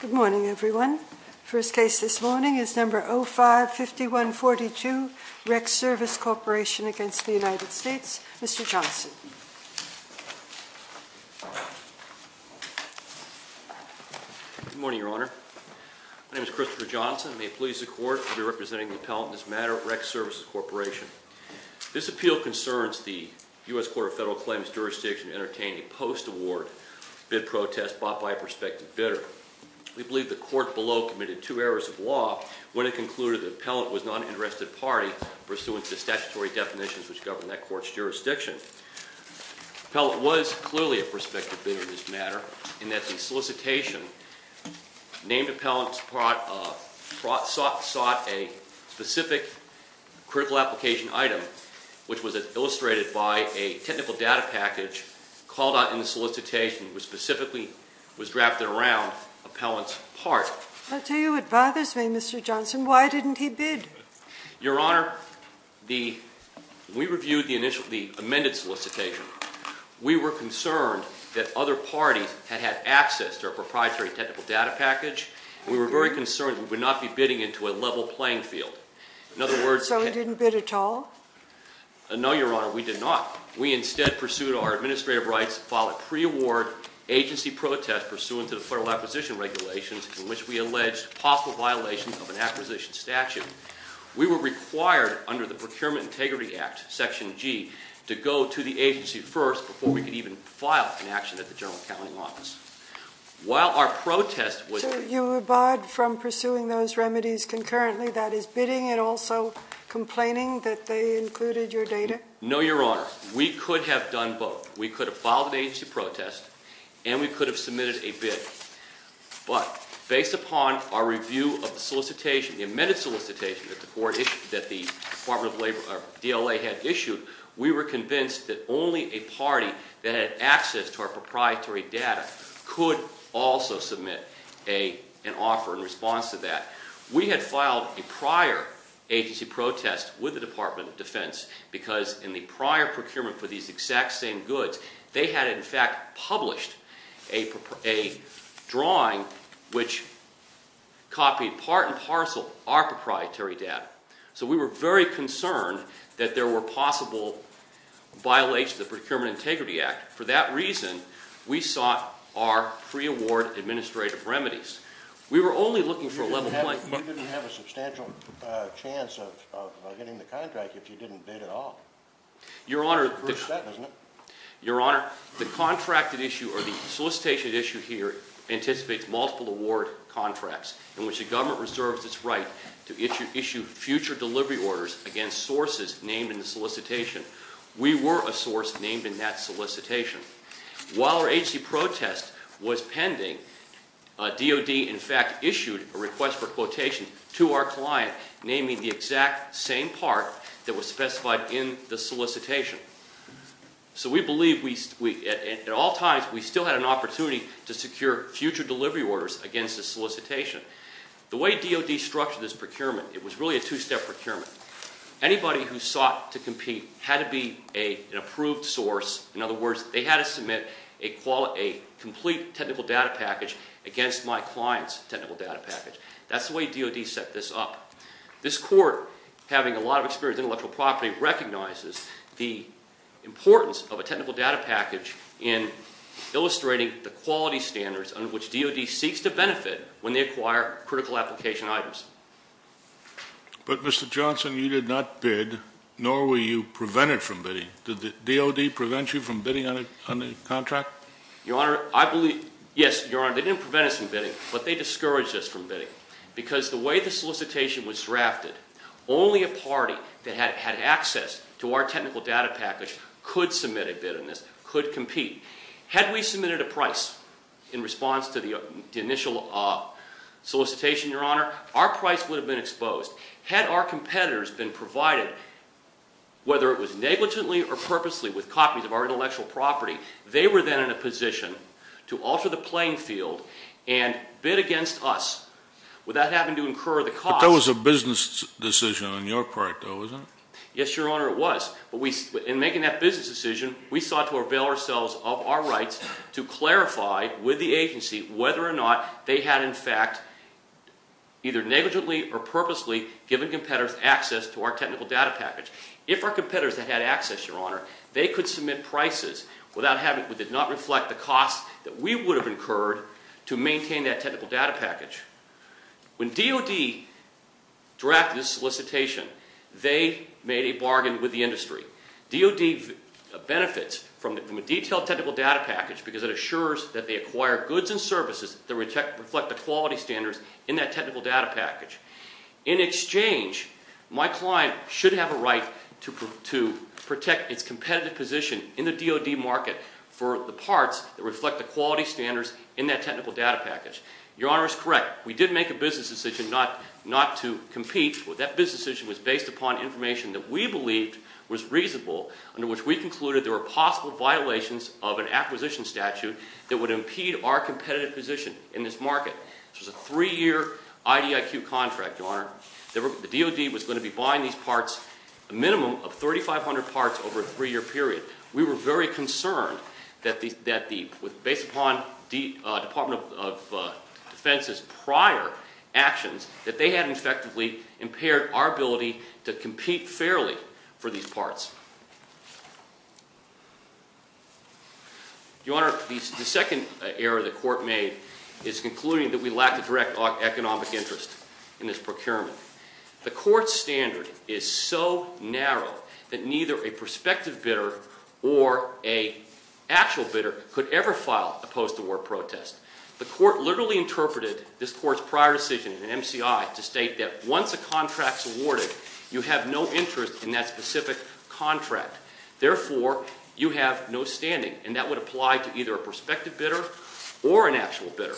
Good morning, everyone. The first case this morning is No. 05-5142, REC Service Corporation v. United States. Mr. Johnson. Good morning, Your Honor. My name is Christopher Johnson. I may please the Court to be representing the appellant in this matter, REC Services Corporation. This appeal concerns the U.S. Court of Federal Claims jurisdiction entertaining a post-award bid protest bought by a prospective bidder. We believe the court below committed two errors of law when it concluded the appellant was not an interested party pursuant to statutory definitions which govern that court's jurisdiction. The appellant was clearly a prospective bidder in this matter in that the solicitation named appellant sought a specific critical application item which was illustrated by a technical data package called out in the solicitation which specifically was drafted around appellant's part. I'll tell you what bothers me, Mr. Johnson. Why didn't he bid? Your Honor, we reviewed the amended solicitation. We were concerned that other parties had had access to a proprietary technical data package. We were very concerned we would not be bidding into a level playing field. So we didn't bid at all? No, Your Honor, we did not. We instead pursued our administrative rights to file a pre-award agency protest pursuant to the Federal Acquisition Regulations in which we alleged possible violations of an acquisition statute. We were required under the Procurement Integrity Act, Section G, to go to the agency first before we could even file an action at the General Accounting Office. So you abided from pursuing those remedies concurrently, that is bidding and also complaining that they included your data? No, Your Honor. We could have done both. We could have filed an agency protest and we could have submitted a bid. But based upon our review of the solicitation, the amended solicitation that the Department of Labor or DLA had issued, we were convinced that only a party that had access to our proprietary data could also submit an offer in response to that. We had filed a prior agency protest with the Department of Defense because in the prior procurement for these exact same goods, they had in fact published a drawing which copied part and parcel our proprietary data. So we were very concerned that there were possible violations of the Procurement Integrity Act. For that reason, we sought our pre-award administrative remedies. You didn't have a substantial chance of getting the contract if you didn't bid at all. Your Honor, the solicitation issue here anticipates multiple award contracts in which the government reserves its right to issue future delivery orders against sources named in the solicitation. We were a source named in that solicitation. While our agency protest was pending, DOD in fact issued a request for quotation to our client naming the exact same part that was specified in the solicitation. So we believe at all times we still had an opportunity to secure future delivery orders against the solicitation. The way DOD structured this procurement, it was really a two-step procurement. Anybody who sought to compete had to be an approved source. In other words, they had to submit a complete technical data package against my client's technical data package. That's the way DOD set this up. This Court, having a lot of experience in intellectual property, recognizes the importance of a technical data package in illustrating the quality standards under which DOD seeks to benefit when they acquire critical application items. But Mr. Johnson, you did not bid, nor were you prevented from bidding. Did the DOD prevent you from bidding on the contract? Yes, Your Honor, they didn't prevent us from bidding, but they discouraged us from bidding. Because the way the solicitation was drafted, only a party that had access to our technical data package could submit a bid on this, could compete. Had we submitted a price in response to the initial solicitation, Your Honor, our price would have been exposed. Had our competitors been provided, whether it was negligently or purposely, with copies of our intellectual property, they were then in a position to alter the playing field and bid against us without having to incur the cost. But that was a business decision on your part, though, wasn't it? Yes, Your Honor, it was. But in making that business decision, we sought to avail ourselves of our rights to clarify with the agency whether or not they had, in fact, either negligently or purposely given competitors access to our technical data package. If our competitors had had access, Your Honor, they could submit prices without having to not reflect the cost that we would have incurred to maintain that technical data package. When DOD drafted this solicitation, they made a bargain with the industry. DOD benefits from a detailed technical data package because it assures that they acquire goods and services that reflect the quality standards in that technical data package. In exchange, my client should have a right to protect its competitive position in the DOD market for the parts that reflect the quality standards in that technical data package. Your Honor is correct. We did make a business decision not to compete. That business decision was based upon information that we believed was reasonable, under which we concluded there were possible violations of an acquisition statute that would impede our competitive position in this market. This was a three-year IDIQ contract, Your Honor. The DOD was going to be buying these parts, a minimum of 3,500 parts over a three-year period. We were very concerned that, based upon Department of Defense's prior actions, that they had effectively impaired our ability to compete fairly for these parts. Your Honor, the second error the Court made is concluding that we lack the direct economic interest in this procurement. The Court's standard is so narrow that neither a prospective bidder or an actual bidder could ever file a post-award protest. The Court literally interpreted this Court's prior decision in MCI to state that once a contract's awarded, you have no interest in that specific contract. Therefore, you have no standing, and that would apply to either a prospective bidder or an actual bidder.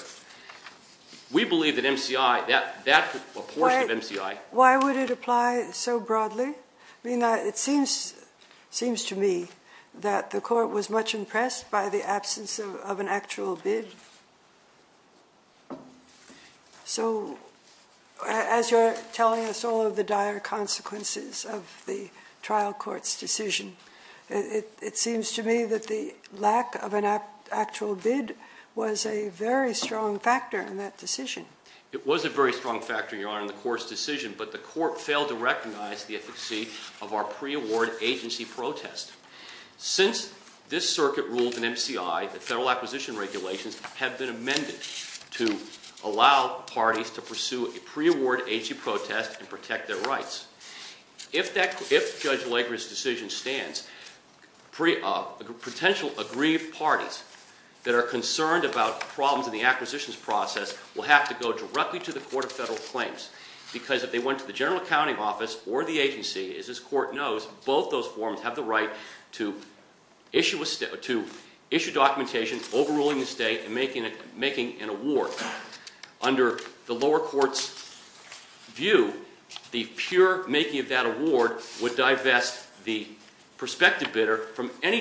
We believe that MCI, that portion of MCI- Why would it apply so broadly? I mean, it seems to me that the Court was much impressed by the absence of an actual bid. So, as you're telling us all of the dire consequences of the trial court's decision, it seems to me that the lack of an actual bid was a very strong factor in that decision. It was a very strong factor, Your Honor, in the Court's decision, but the Court failed to recognize the efficacy of our pre-award agency protest. Since this circuit ruled in MCI that federal acquisition regulations have been amended to allow parties to pursue a pre-award agency protest and protect their rights, if Judge Legra's decision stands, potential aggrieved parties that are concerned about problems in the acquisitions process will have to go directly to the Court of Federal Claims because if they went to the General Accounting Office or the agency, as this Court knows, both those forms have the right to issue documentation overruling the state and making an award. Under the lower court's view, the pure making of that award would divest the prospective bidder from any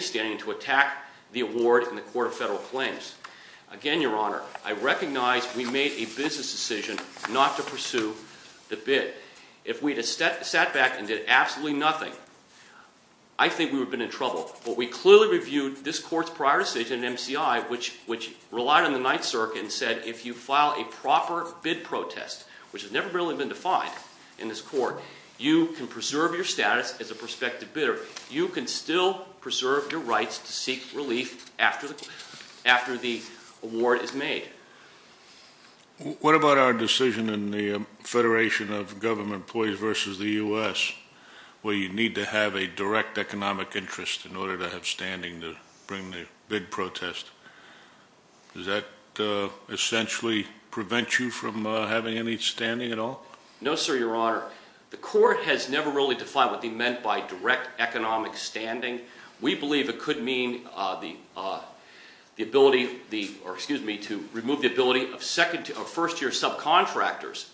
standing to attack the award in the Court of Federal Claims. Again, Your Honor, I recognize we made a business decision not to pursue the bid. If we had sat back and did absolutely nothing, I think we would have been in trouble, but we clearly reviewed this Court's prior decision in MCI, which relied on the Ninth Circuit and said if you file a proper bid protest, which has never really been defined in this Court, you can preserve your status as a prospective bidder. You can still preserve your rights to seek relief after the award is made. What about our decision in the Federation of Government Employees v. the U.S. where you need to have a direct economic interest in order to have standing to bring the bid protest? Does that essentially prevent you from having any standing at all? No, sir, Your Honor. The Court has never really defined what they meant by direct economic standing. We believe it could mean the ability to remove the ability of first-year subcontractors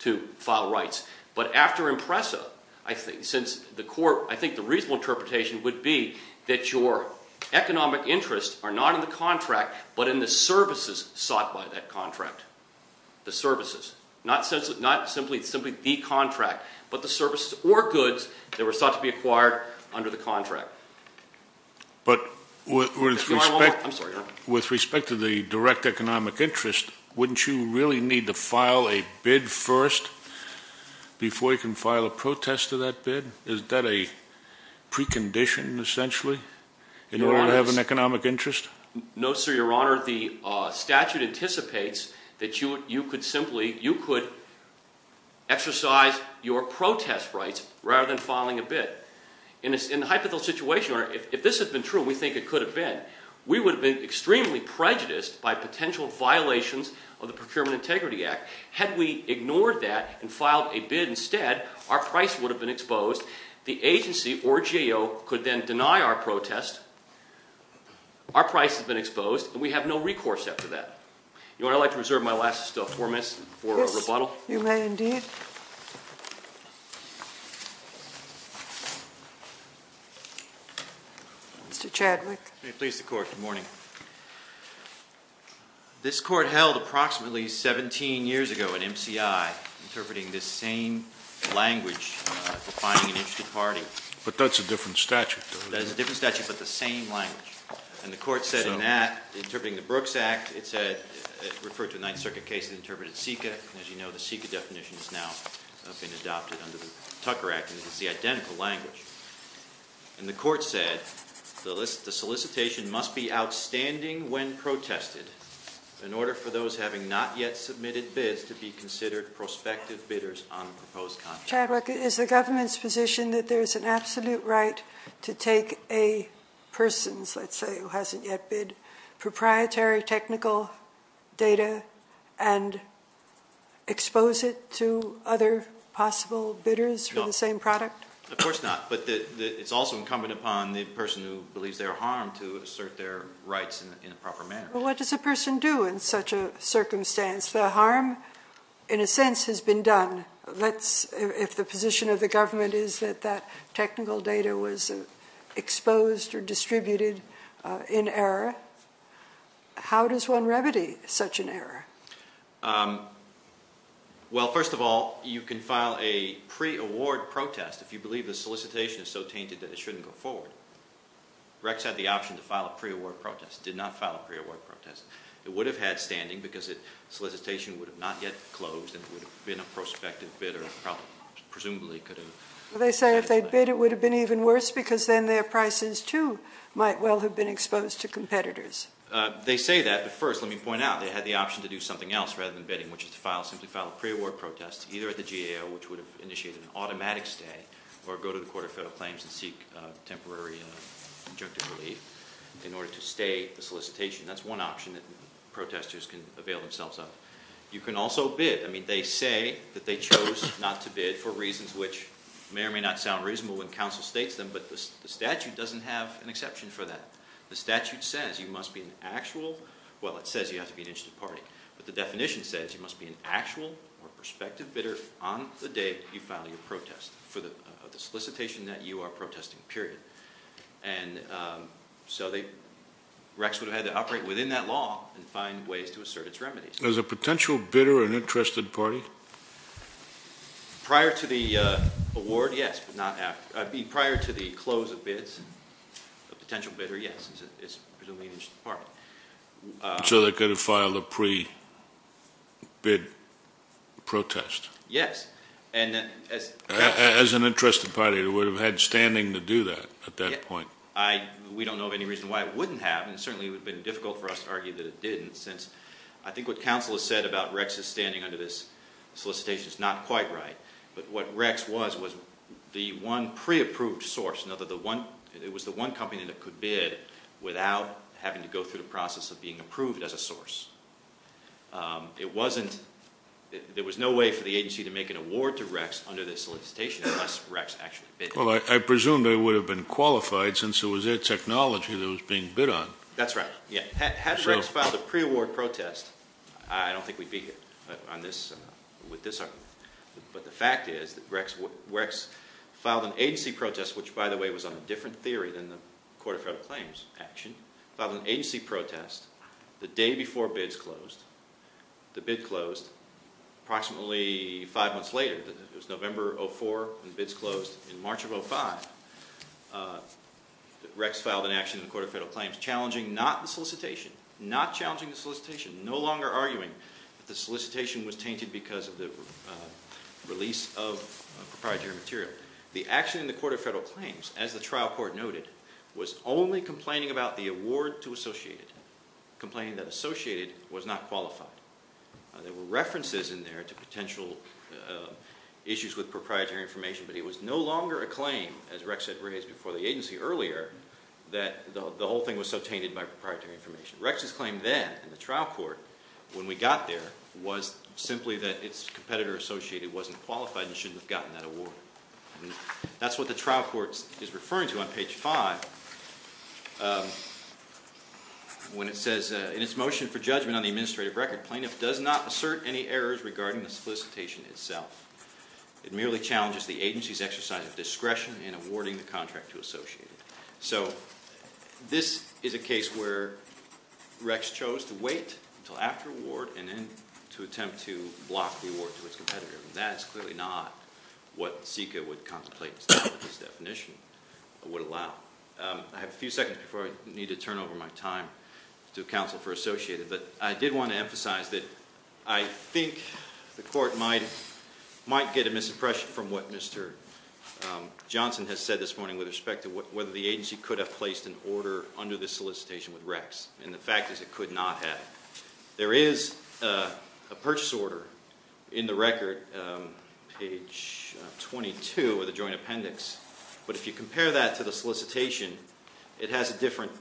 to file rights. But after IMPRESA, I think the reasonable interpretation would be that your economic interests are not in the contract but in the services sought by that contract. The services. Not simply the contract, but the services or goods that were sought to be acquired under the contract. But with respect to the direct economic interest, wouldn't you really need to file a bid first before you can file a protest to that bid? Is that a precondition, essentially, in order to have an economic interest? No, sir, Your Honor. The statute anticipates that you could exercise your protest rights rather than filing a bid. In the hypothetical situation, if this had been true, we think it could have been, we would have been extremely prejudiced by potential violations of the Procurement Integrity Act. Had we ignored that and filed a bid instead, our price would have been exposed. The agency or GAO could then deny our protest, our price has been exposed, and we have no recourse after that. Your Honor, I'd like to reserve my last four minutes for a rebuttal. Yes, you may indeed. Mr. Chadwick. May it please the Court, good morning. This Court held approximately 17 years ago at MCI, interpreting this same language for finding an interested party. But that's a different statute, though, isn't it? That is a different statute, but the same language. And the Court said in that, interpreting the Brooks Act, it said, it referred to a Ninth Circuit case that interpreted CICA, and as you know, the CICA definition has now been adopted under the Tucker Act, and it's the identical language. And the Court said the solicitation must be outstanding when protested, in order for those having not yet submitted bids to be considered prospective bidders on the proposed contract. Chadwick, is the government's position that there's an absolute right to take a person's, let's say, who hasn't yet bidded proprietary technical data and expose it to other possible bidders for the same product? Of course not. But it's also incumbent upon the person who believes they're harmed to assert their rights in a proper manner. Well, what does a person do in such a circumstance? The harm, in a sense, has been done. If the position of the government is that that technical data was exposed or distributed in error, how does one remedy such an error? Well, first of all, you can file a pre-award protest if you believe the solicitation is so tainted that it shouldn't go forward. Rex had the option to file a pre-award protest, did not file a pre-award protest. It would have had standing because the solicitation would have not yet closed, and it would have been a prospective bidder, and presumably could have- They say if they bid, it would have been even worse because then their prices, too, might well have been exposed to competitors. They say that, but first let me point out they had the option to do something else rather than bidding, which is to simply file a pre-award protest either at the GAO, which would have initiated an automatic stay, or go to the Court of Federal Claims and seek temporary injunctive relief in order to stay the solicitation. That's one option that protesters can avail themselves of. You can also bid. I mean, they say that they chose not to bid for reasons which may or may not sound reasonable when counsel states them, but the statute doesn't have an exception for that. The statute says you must be an actual-well, it says you have to be an interested party, but the definition says you must be an actual or prospective bidder on the day you file your protest for the solicitation that you are protesting, period. And so the recs would have had to operate within that law and find ways to assert its remedies. Was a potential bidder an interested party? Prior to the award, yes, but not after. Prior to the close of bids, a potential bidder, yes, it's presumably an interested party. So they could have filed a pre-bid protest? Yes. As an interested party, it would have had standing to do that at that point. We don't know of any reason why it wouldn't have, and it certainly would have been difficult for us to argue that it didn't, since I think what counsel has said about recs as standing under this solicitation is not quite right, but what recs was was the one pre-approved source. It was the one company that could bid without having to go through the process of being approved as a source. There was no way for the agency to make an award to recs under this solicitation unless recs actually bid. Well, I presume they would have been qualified since it was their technology that was being bid on. That's right, yeah. Recs filed a pre-award protest. I don't think we'd be here with this argument, but the fact is that recs filed an agency protest, which, by the way, was on a different theory than the Court of Federal Claims action, filed an agency protest the day before bids closed. The bid closed approximately five months later. It was November of 2004 when the bids closed. In March of 2005, recs filed an action in the Court of Federal Claims challenging not the solicitation, not challenging the solicitation, no longer arguing that the solicitation was tainted because of the release of proprietary material. The action in the Court of Federal Claims, as the trial court noted, was only complaining about the award to Associated, complaining that Associated was not qualified. There were references in there to potential issues with proprietary information, but it was no longer a claim, as recs had raised before the agency earlier, that the whole thing was so tainted by proprietary information. Recs' claim then in the trial court, when we got there, was simply that its competitor Associated wasn't qualified and shouldn't have gotten that award. That's what the trial court is referring to on page five when it says, in its motion for judgment on the administrative record, plaintiff does not assert any errors regarding the solicitation itself. It merely challenges the agency's exercise of discretion in awarding the contract to Associated. So this is a case where recs chose to wait until after award and then to attempt to block the award to its competitor, and that is clearly not what CICA would contemplate with this definition, would allow. I have a few seconds before I need to turn over my time to counsel for Associated, but I did want to emphasize that I think the court might get a misimpression from what Mr. Johnson has said this morning with respect to whether the agency could have placed an order under this solicitation with recs, and the fact is it could not have. There is a purchase order in the record, page 22 of the joint appendix, but if you compare that to the solicitation, it has a different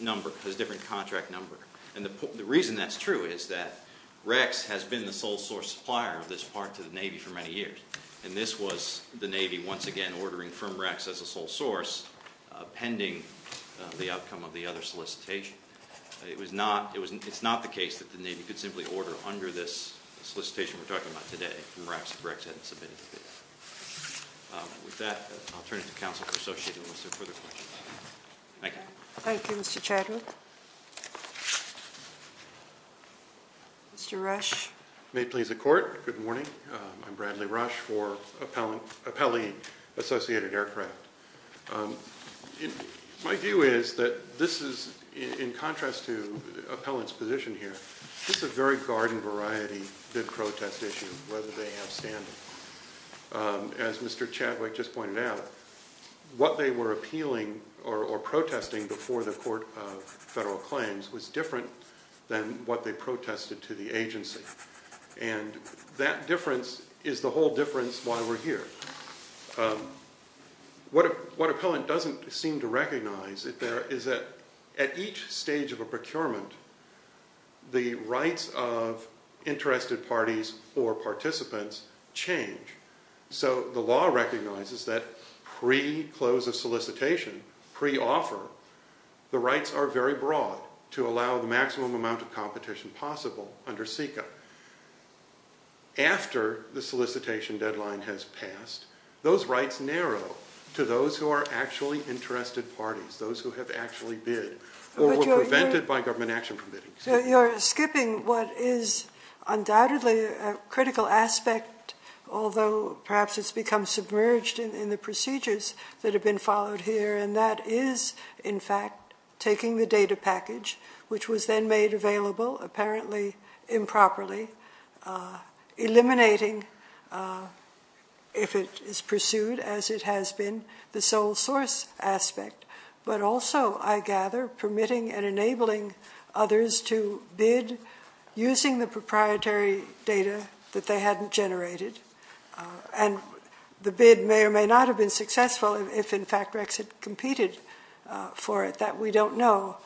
number, has a different contract number, and the reason that's true is that recs has been the sole source supplier of this part to the Navy for many years, and this was the Navy once again ordering from recs as a sole source pending the outcome of the other solicitation. It's not the case that the Navy could simply order under this solicitation we're talking about today and perhaps the recs hadn't submitted to this. With that, I'll turn it to counsel for Associated unless there are further questions. Thank you. Thank you, Mr. Chadwick. Mr. Rush. May it please the court, good morning. I'm Bradley Rush for Appellee Associated Aircraft. My view is that this is, in contrast to the appellant's position here, this is a very garden variety bid protest issue, whether they have standing. As Mr. Chadwick just pointed out, what they were appealing or protesting before the court of federal claims was different than what they protested to the agency, and that difference is the whole difference why we're here. What appellant doesn't seem to recognize is that at each stage of a procurement, the rights of interested parties or participants change. So the law recognizes that pre-close of solicitation, pre-offer, the rights are very broad to allow the maximum amount of competition possible under SECA. After the solicitation deadline has passed, those rights narrow to those who are actually interested parties, those who have actually bid or were prevented by government action permitting. You're skipping what is undoubtedly a critical aspect, although perhaps it's become submerged in the procedures that have been followed here, and that is, in fact, taking the data package, which was then made available, apparently improperly, eliminating, if it is pursued as it has been, the sole source aspect, but also, I gather, permitting and enabling others to bid using the proprietary data that they hadn't generated. And the bid may or may not have been successful if, in fact, Rex had competed for it. That we don't know.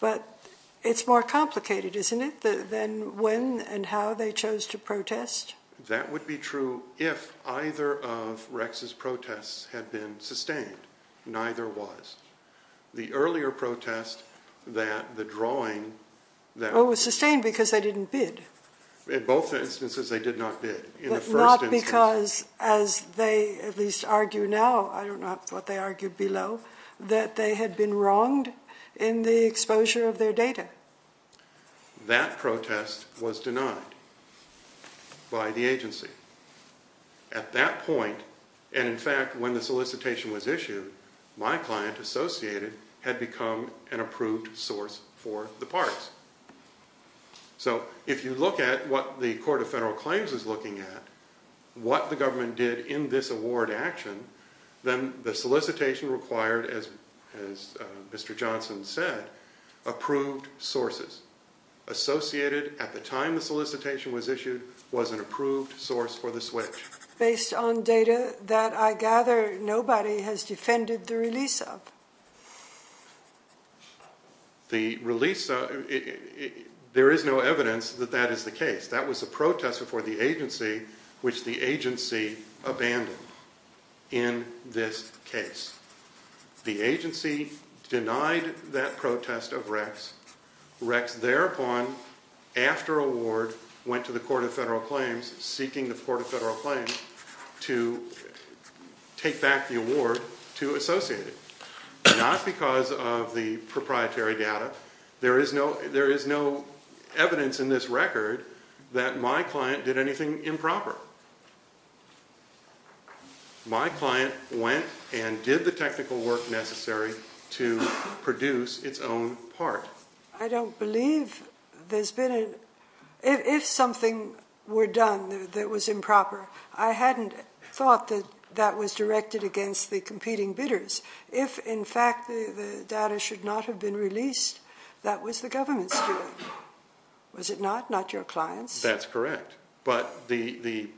But it's more complicated, isn't it, than when and how they chose to protest? That would be true if either of Rex's protests had been sustained. Neither was. The earlier protest that the drawing that... It was sustained because they didn't bid. In both instances, they did not bid. But not because, as they at least argue now, I don't know what they argued below, that they had been wronged in the exposure of their data. That protest was denied by the agency. At that point, and in fact, when the solicitation was issued, my client, Associated, had become an approved source for the parts. So if you look at what the Court of Federal Claims is looking at, what the government did in this award action, then the solicitation required, as Mr. Johnson said, approved sources. Associated, at the time the solicitation was issued, was an approved source for the switch. Based on data that, I gather, nobody has defended the release of. The release... There is no evidence that that is the case. That was a protest before the agency, which the agency abandoned in this case. The agency denied that protest of Rex. Rex, thereupon, after award, went to the Court of Federal Claims, to take back the award to Associated. Not because of the proprietary data. There is no evidence in this record that my client did anything improper. My client went and did the technical work necessary to produce its own part. I don't believe there's been a... If something were done that was improper, I hadn't thought that that was directed against the competing bidders. If, in fact, the data should not have been released, that was the government's doing. Was it not? Not your client's? That's correct. But the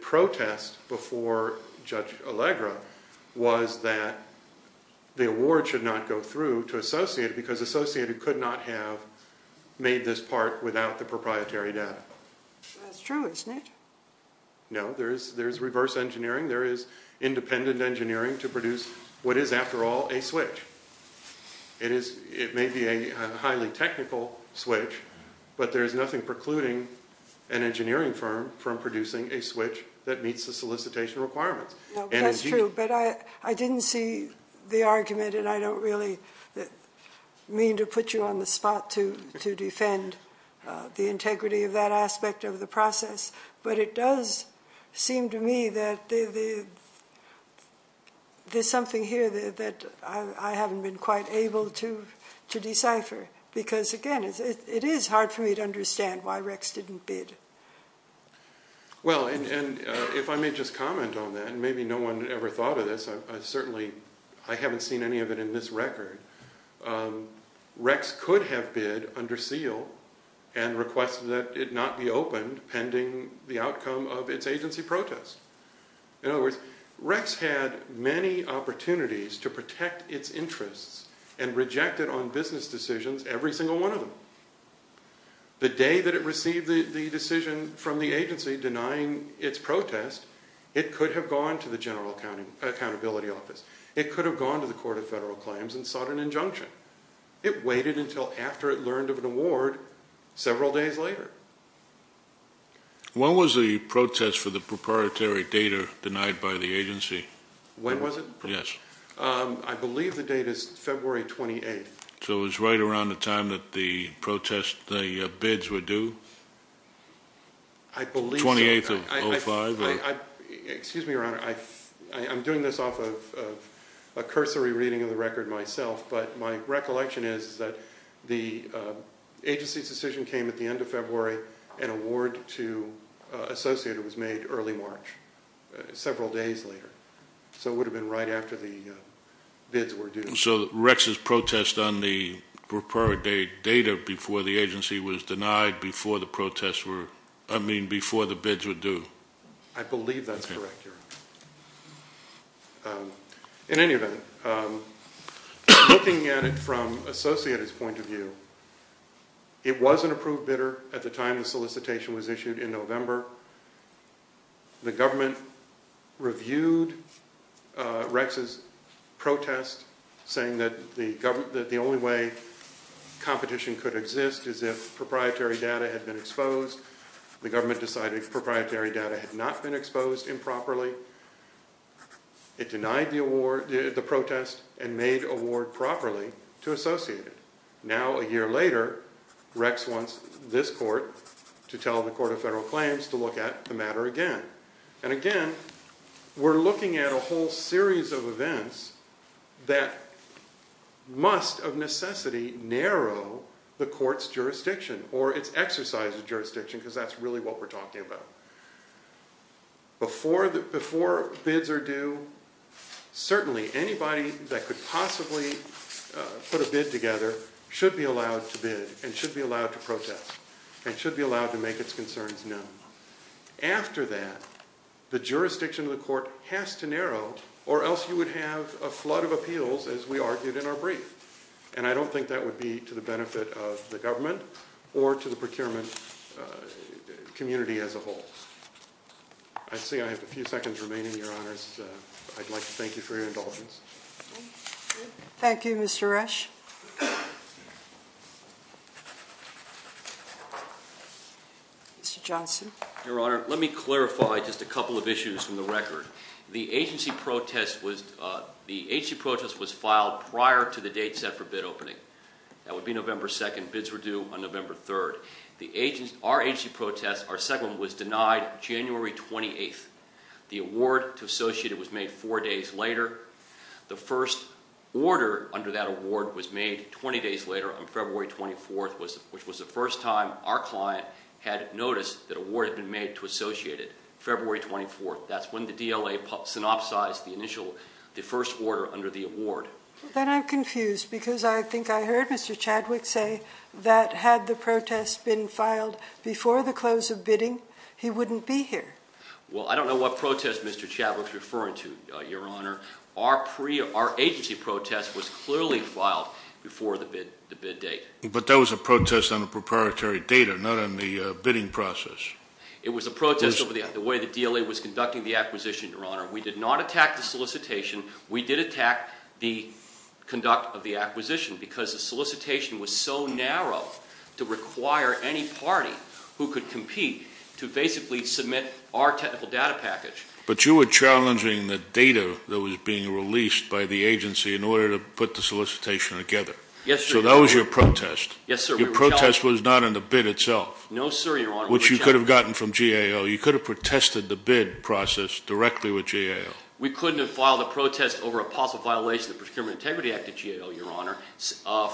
protest before Judge Allegra was that the award should not go through to Associated because Associated could not have made this part without the proprietary data. That's true, isn't it? No, there is reverse engineering. There is independent engineering to produce what is, after all, a switch. It may be a highly technical switch, but there is nothing precluding an engineering firm from producing a switch that meets the solicitation requirements. That's true, but I didn't see the argument, and I don't really mean to put you on the spot to defend the integrity of that aspect of the process. But it does seem to me that there's something here that I haven't been quite able to decipher because, again, it is hard for me to understand why Rex didn't bid. Well, if I may just comment on that, and maybe no one ever thought of this, I certainly haven't seen any of it in this record. Rex could have bid under seal and requested that it not be opened pending the outcome of its agency protest. In other words, Rex had many opportunities to protect its interests and rejected on business decisions every single one of them. The day that it received the decision from the agency denying its protest, it could have gone to the General Accountability Office. It could have gone to the Court of Federal Claims and sought an injunction. It waited until after it learned of an award several days later. When was the protest for the proprietary data denied by the agency? When was it? Yes. I believe the date is February 28th. So it was right around the time that the bids were due? I believe so. 28th of 05? Excuse me, Your Honor. I'm doing this off of a cursory reading of the record myself, but my recollection is that the agency's decision came at the end of February. An award to Associated was made early March, several days later. So it would have been right after the bids were due. So Rex's protest on the proprietary data before the agency was denied before the protests were, I mean before the bids were due? I believe that's correct, Your Honor. In any event, looking at it from Associated's point of view, it was an approved bidder at the time the solicitation was issued in November. The government reviewed Rex's protest, saying that the only way competition could exist is if proprietary data had been exposed. The government decided proprietary data had not been exposed improperly. It denied the award, the protest, and made award properly to Associated. Now, a year later, Rex wants this court to tell the Court of Federal Claims to look at the matter again. And again, we're looking at a whole series of events that must, of necessity, narrow the court's jurisdiction or its exercise of jurisdiction, because that's really what we're talking about. Before bids are due, certainly anybody that could possibly put a bid together should be allowed to bid, and should be allowed to protest, and should be allowed to make its concerns known. After that, the jurisdiction of the court has to narrow, or else you would have a flood of appeals, as we argued in our brief. And I don't think that would be to the benefit of the government or to the procurement community as a whole. I see I have a few seconds remaining, Your Honors. I'd like to thank you for your indulgence. Thank you, Mr. Resch. Mr. Johnson. Your Honor, let me clarify just a couple of issues from the record. The agency protest was filed prior to the date set for bid opening. That would be November 2nd. Bids were due on November 3rd. Our agency protest, our second one, was denied January 28th. The award to Associated was made four days later. The first order under that award was made 20 days later on February 24th, which was the first time our client had noticed that an award had been made to Associated, February 24th. That's when the DLA synopsized the first order under the award. Then I'm confused, because I think I heard Mr. Chadwick say that had the protest been filed before the close of bidding, he wouldn't be here. Well, I don't know what protest Mr. Chadwick's referring to, Your Honor. Our agency protest was clearly filed before the bid date. But that was a protest on a proprietary data, not on the bidding process. It was a protest over the way the DLA was conducting the acquisition, Your Honor. We did not attack the solicitation. We did attack the conduct of the acquisition because the solicitation was so narrow to require any party who could compete to basically submit our technical data package. But you were challenging the data that was being released by the agency in order to put the solicitation together. Yes, sir. So that was your protest. Yes, sir. Your protest was not in the bid itself. No, sir, Your Honor. Which you could have gotten from GAO. You could have protested the bid process directly with GAO. We couldn't have filed a protest over a possible violation of the Procurement Integrity Act at GAO, Your Honor.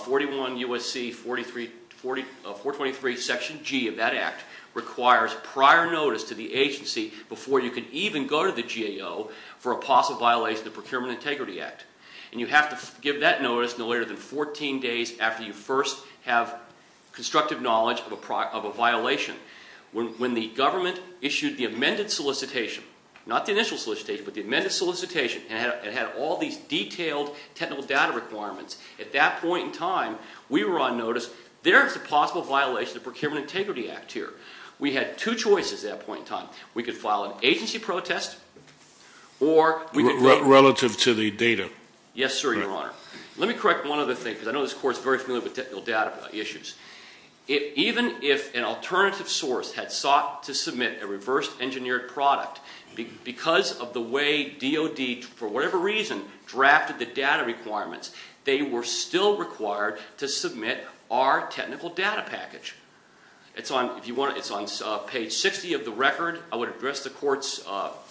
41 U.S.C. 423 section G of that act requires prior notice to the agency before you can even go to the GAO for a possible violation of the Procurement Integrity Act. And you have to give that notice no later than 14 days after you first have constructive knowledge of a violation. When the government issued the amended solicitation, not the initial solicitation, but the amended solicitation, and it had all these detailed technical data requirements, at that point in time, we were on notice, there is a possible violation of the Procurement Integrity Act here. We had two choices at that point in time. We could file an agency protest or we could- Relative to the data. Yes, sir, Your Honor. Let me correct one other thing because I know this court is very familiar with technical data issues. Even if an alternative source had sought to submit a reverse engineered product, because of the way DOD, for whatever reason, drafted the data requirements, they were still required to submit our technical data package. It's on page 60 of the record. I would address the court's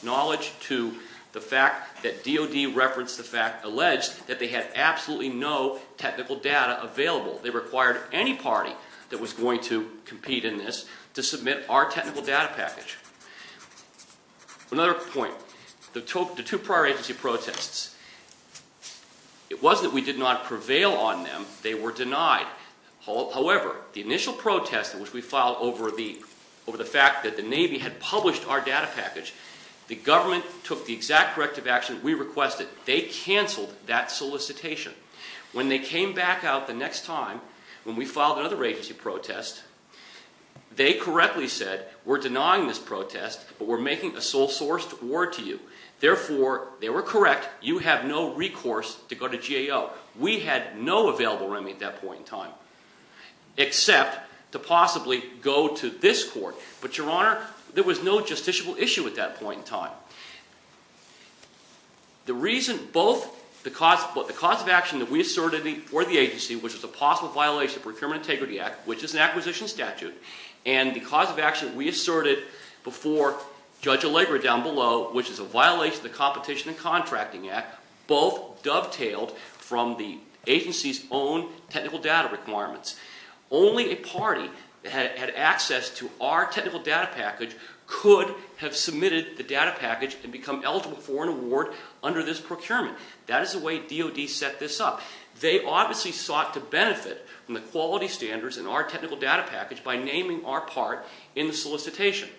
knowledge to the fact that DOD referenced the fact, alleged, that they had absolutely no technical data available. They required any party that was going to compete in this to submit our technical data package. Another point. The two prior agency protests. It was that we did not prevail on them. They were denied. However, the initial protest which we filed over the fact that the Navy had published our data package, the government took the exact corrective action we requested. They canceled that solicitation. When they came back out the next time, when we filed another agency protest, they correctly said, we're denying this protest, but we're making a sole-sourced award to you. Therefore, they were correct. You have no recourse to go to GAO. We had no available remedy at that point in time except to possibly go to this court. But, Your Honor, there was no justiciable issue at that point in time. The reason both the cause of action that we asserted before the agency, which was a possible violation of Procurement Integrity Act, which is an acquisition statute, and the cause of action we asserted before Judge Allegra down below, which is a violation of the Competition and Contracting Act, both dovetailed from the agency's own technical data requirements. Only a party that had access to our technical data package could have submitted the data package and become eligible for an award under this procurement. That is the way DOD set this up. They obviously sought to benefit from the quality standards in our technical data package by naming our part in the solicitation.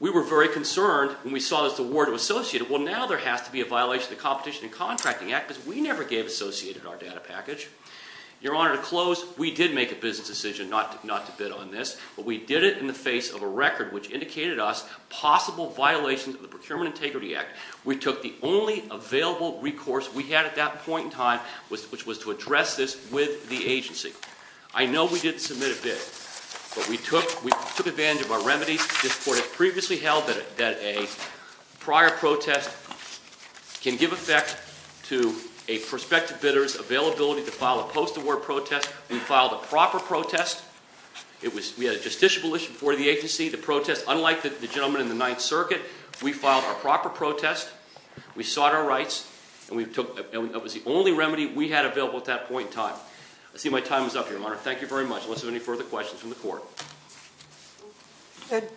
We were very concerned when we saw this award was associated. Well, now there has to be a violation of the Competition and Contracting Act because we never gave associated our data package. Your Honor, to close, we did make a business decision not to bid on this, but we did it in the face of a record which indicated us possible violations of the Procurement Integrity Act. We took the only available recourse we had at that point in time, which was to address this with the agency. I know we didn't submit a bid, but we took advantage of our remedies. This Court had previously held that a prior protest can give effect to a prospective bidder's availability to file a post-award protest. We filed a proper protest. We had a justiciable issue before the agency. The protest, unlike the gentleman in the Ninth Circuit, we filed a proper protest. We sought our rights, and that was the only remedy we had available at that point in time. I see my time is up, Your Honor. Thank you very much. Unless there are any further questions from the Court.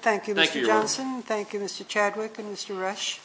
Thank you, Mr. Johnson. Thank you, Your Honor. Thank you, Mr. Chadwick and Mr. Rush.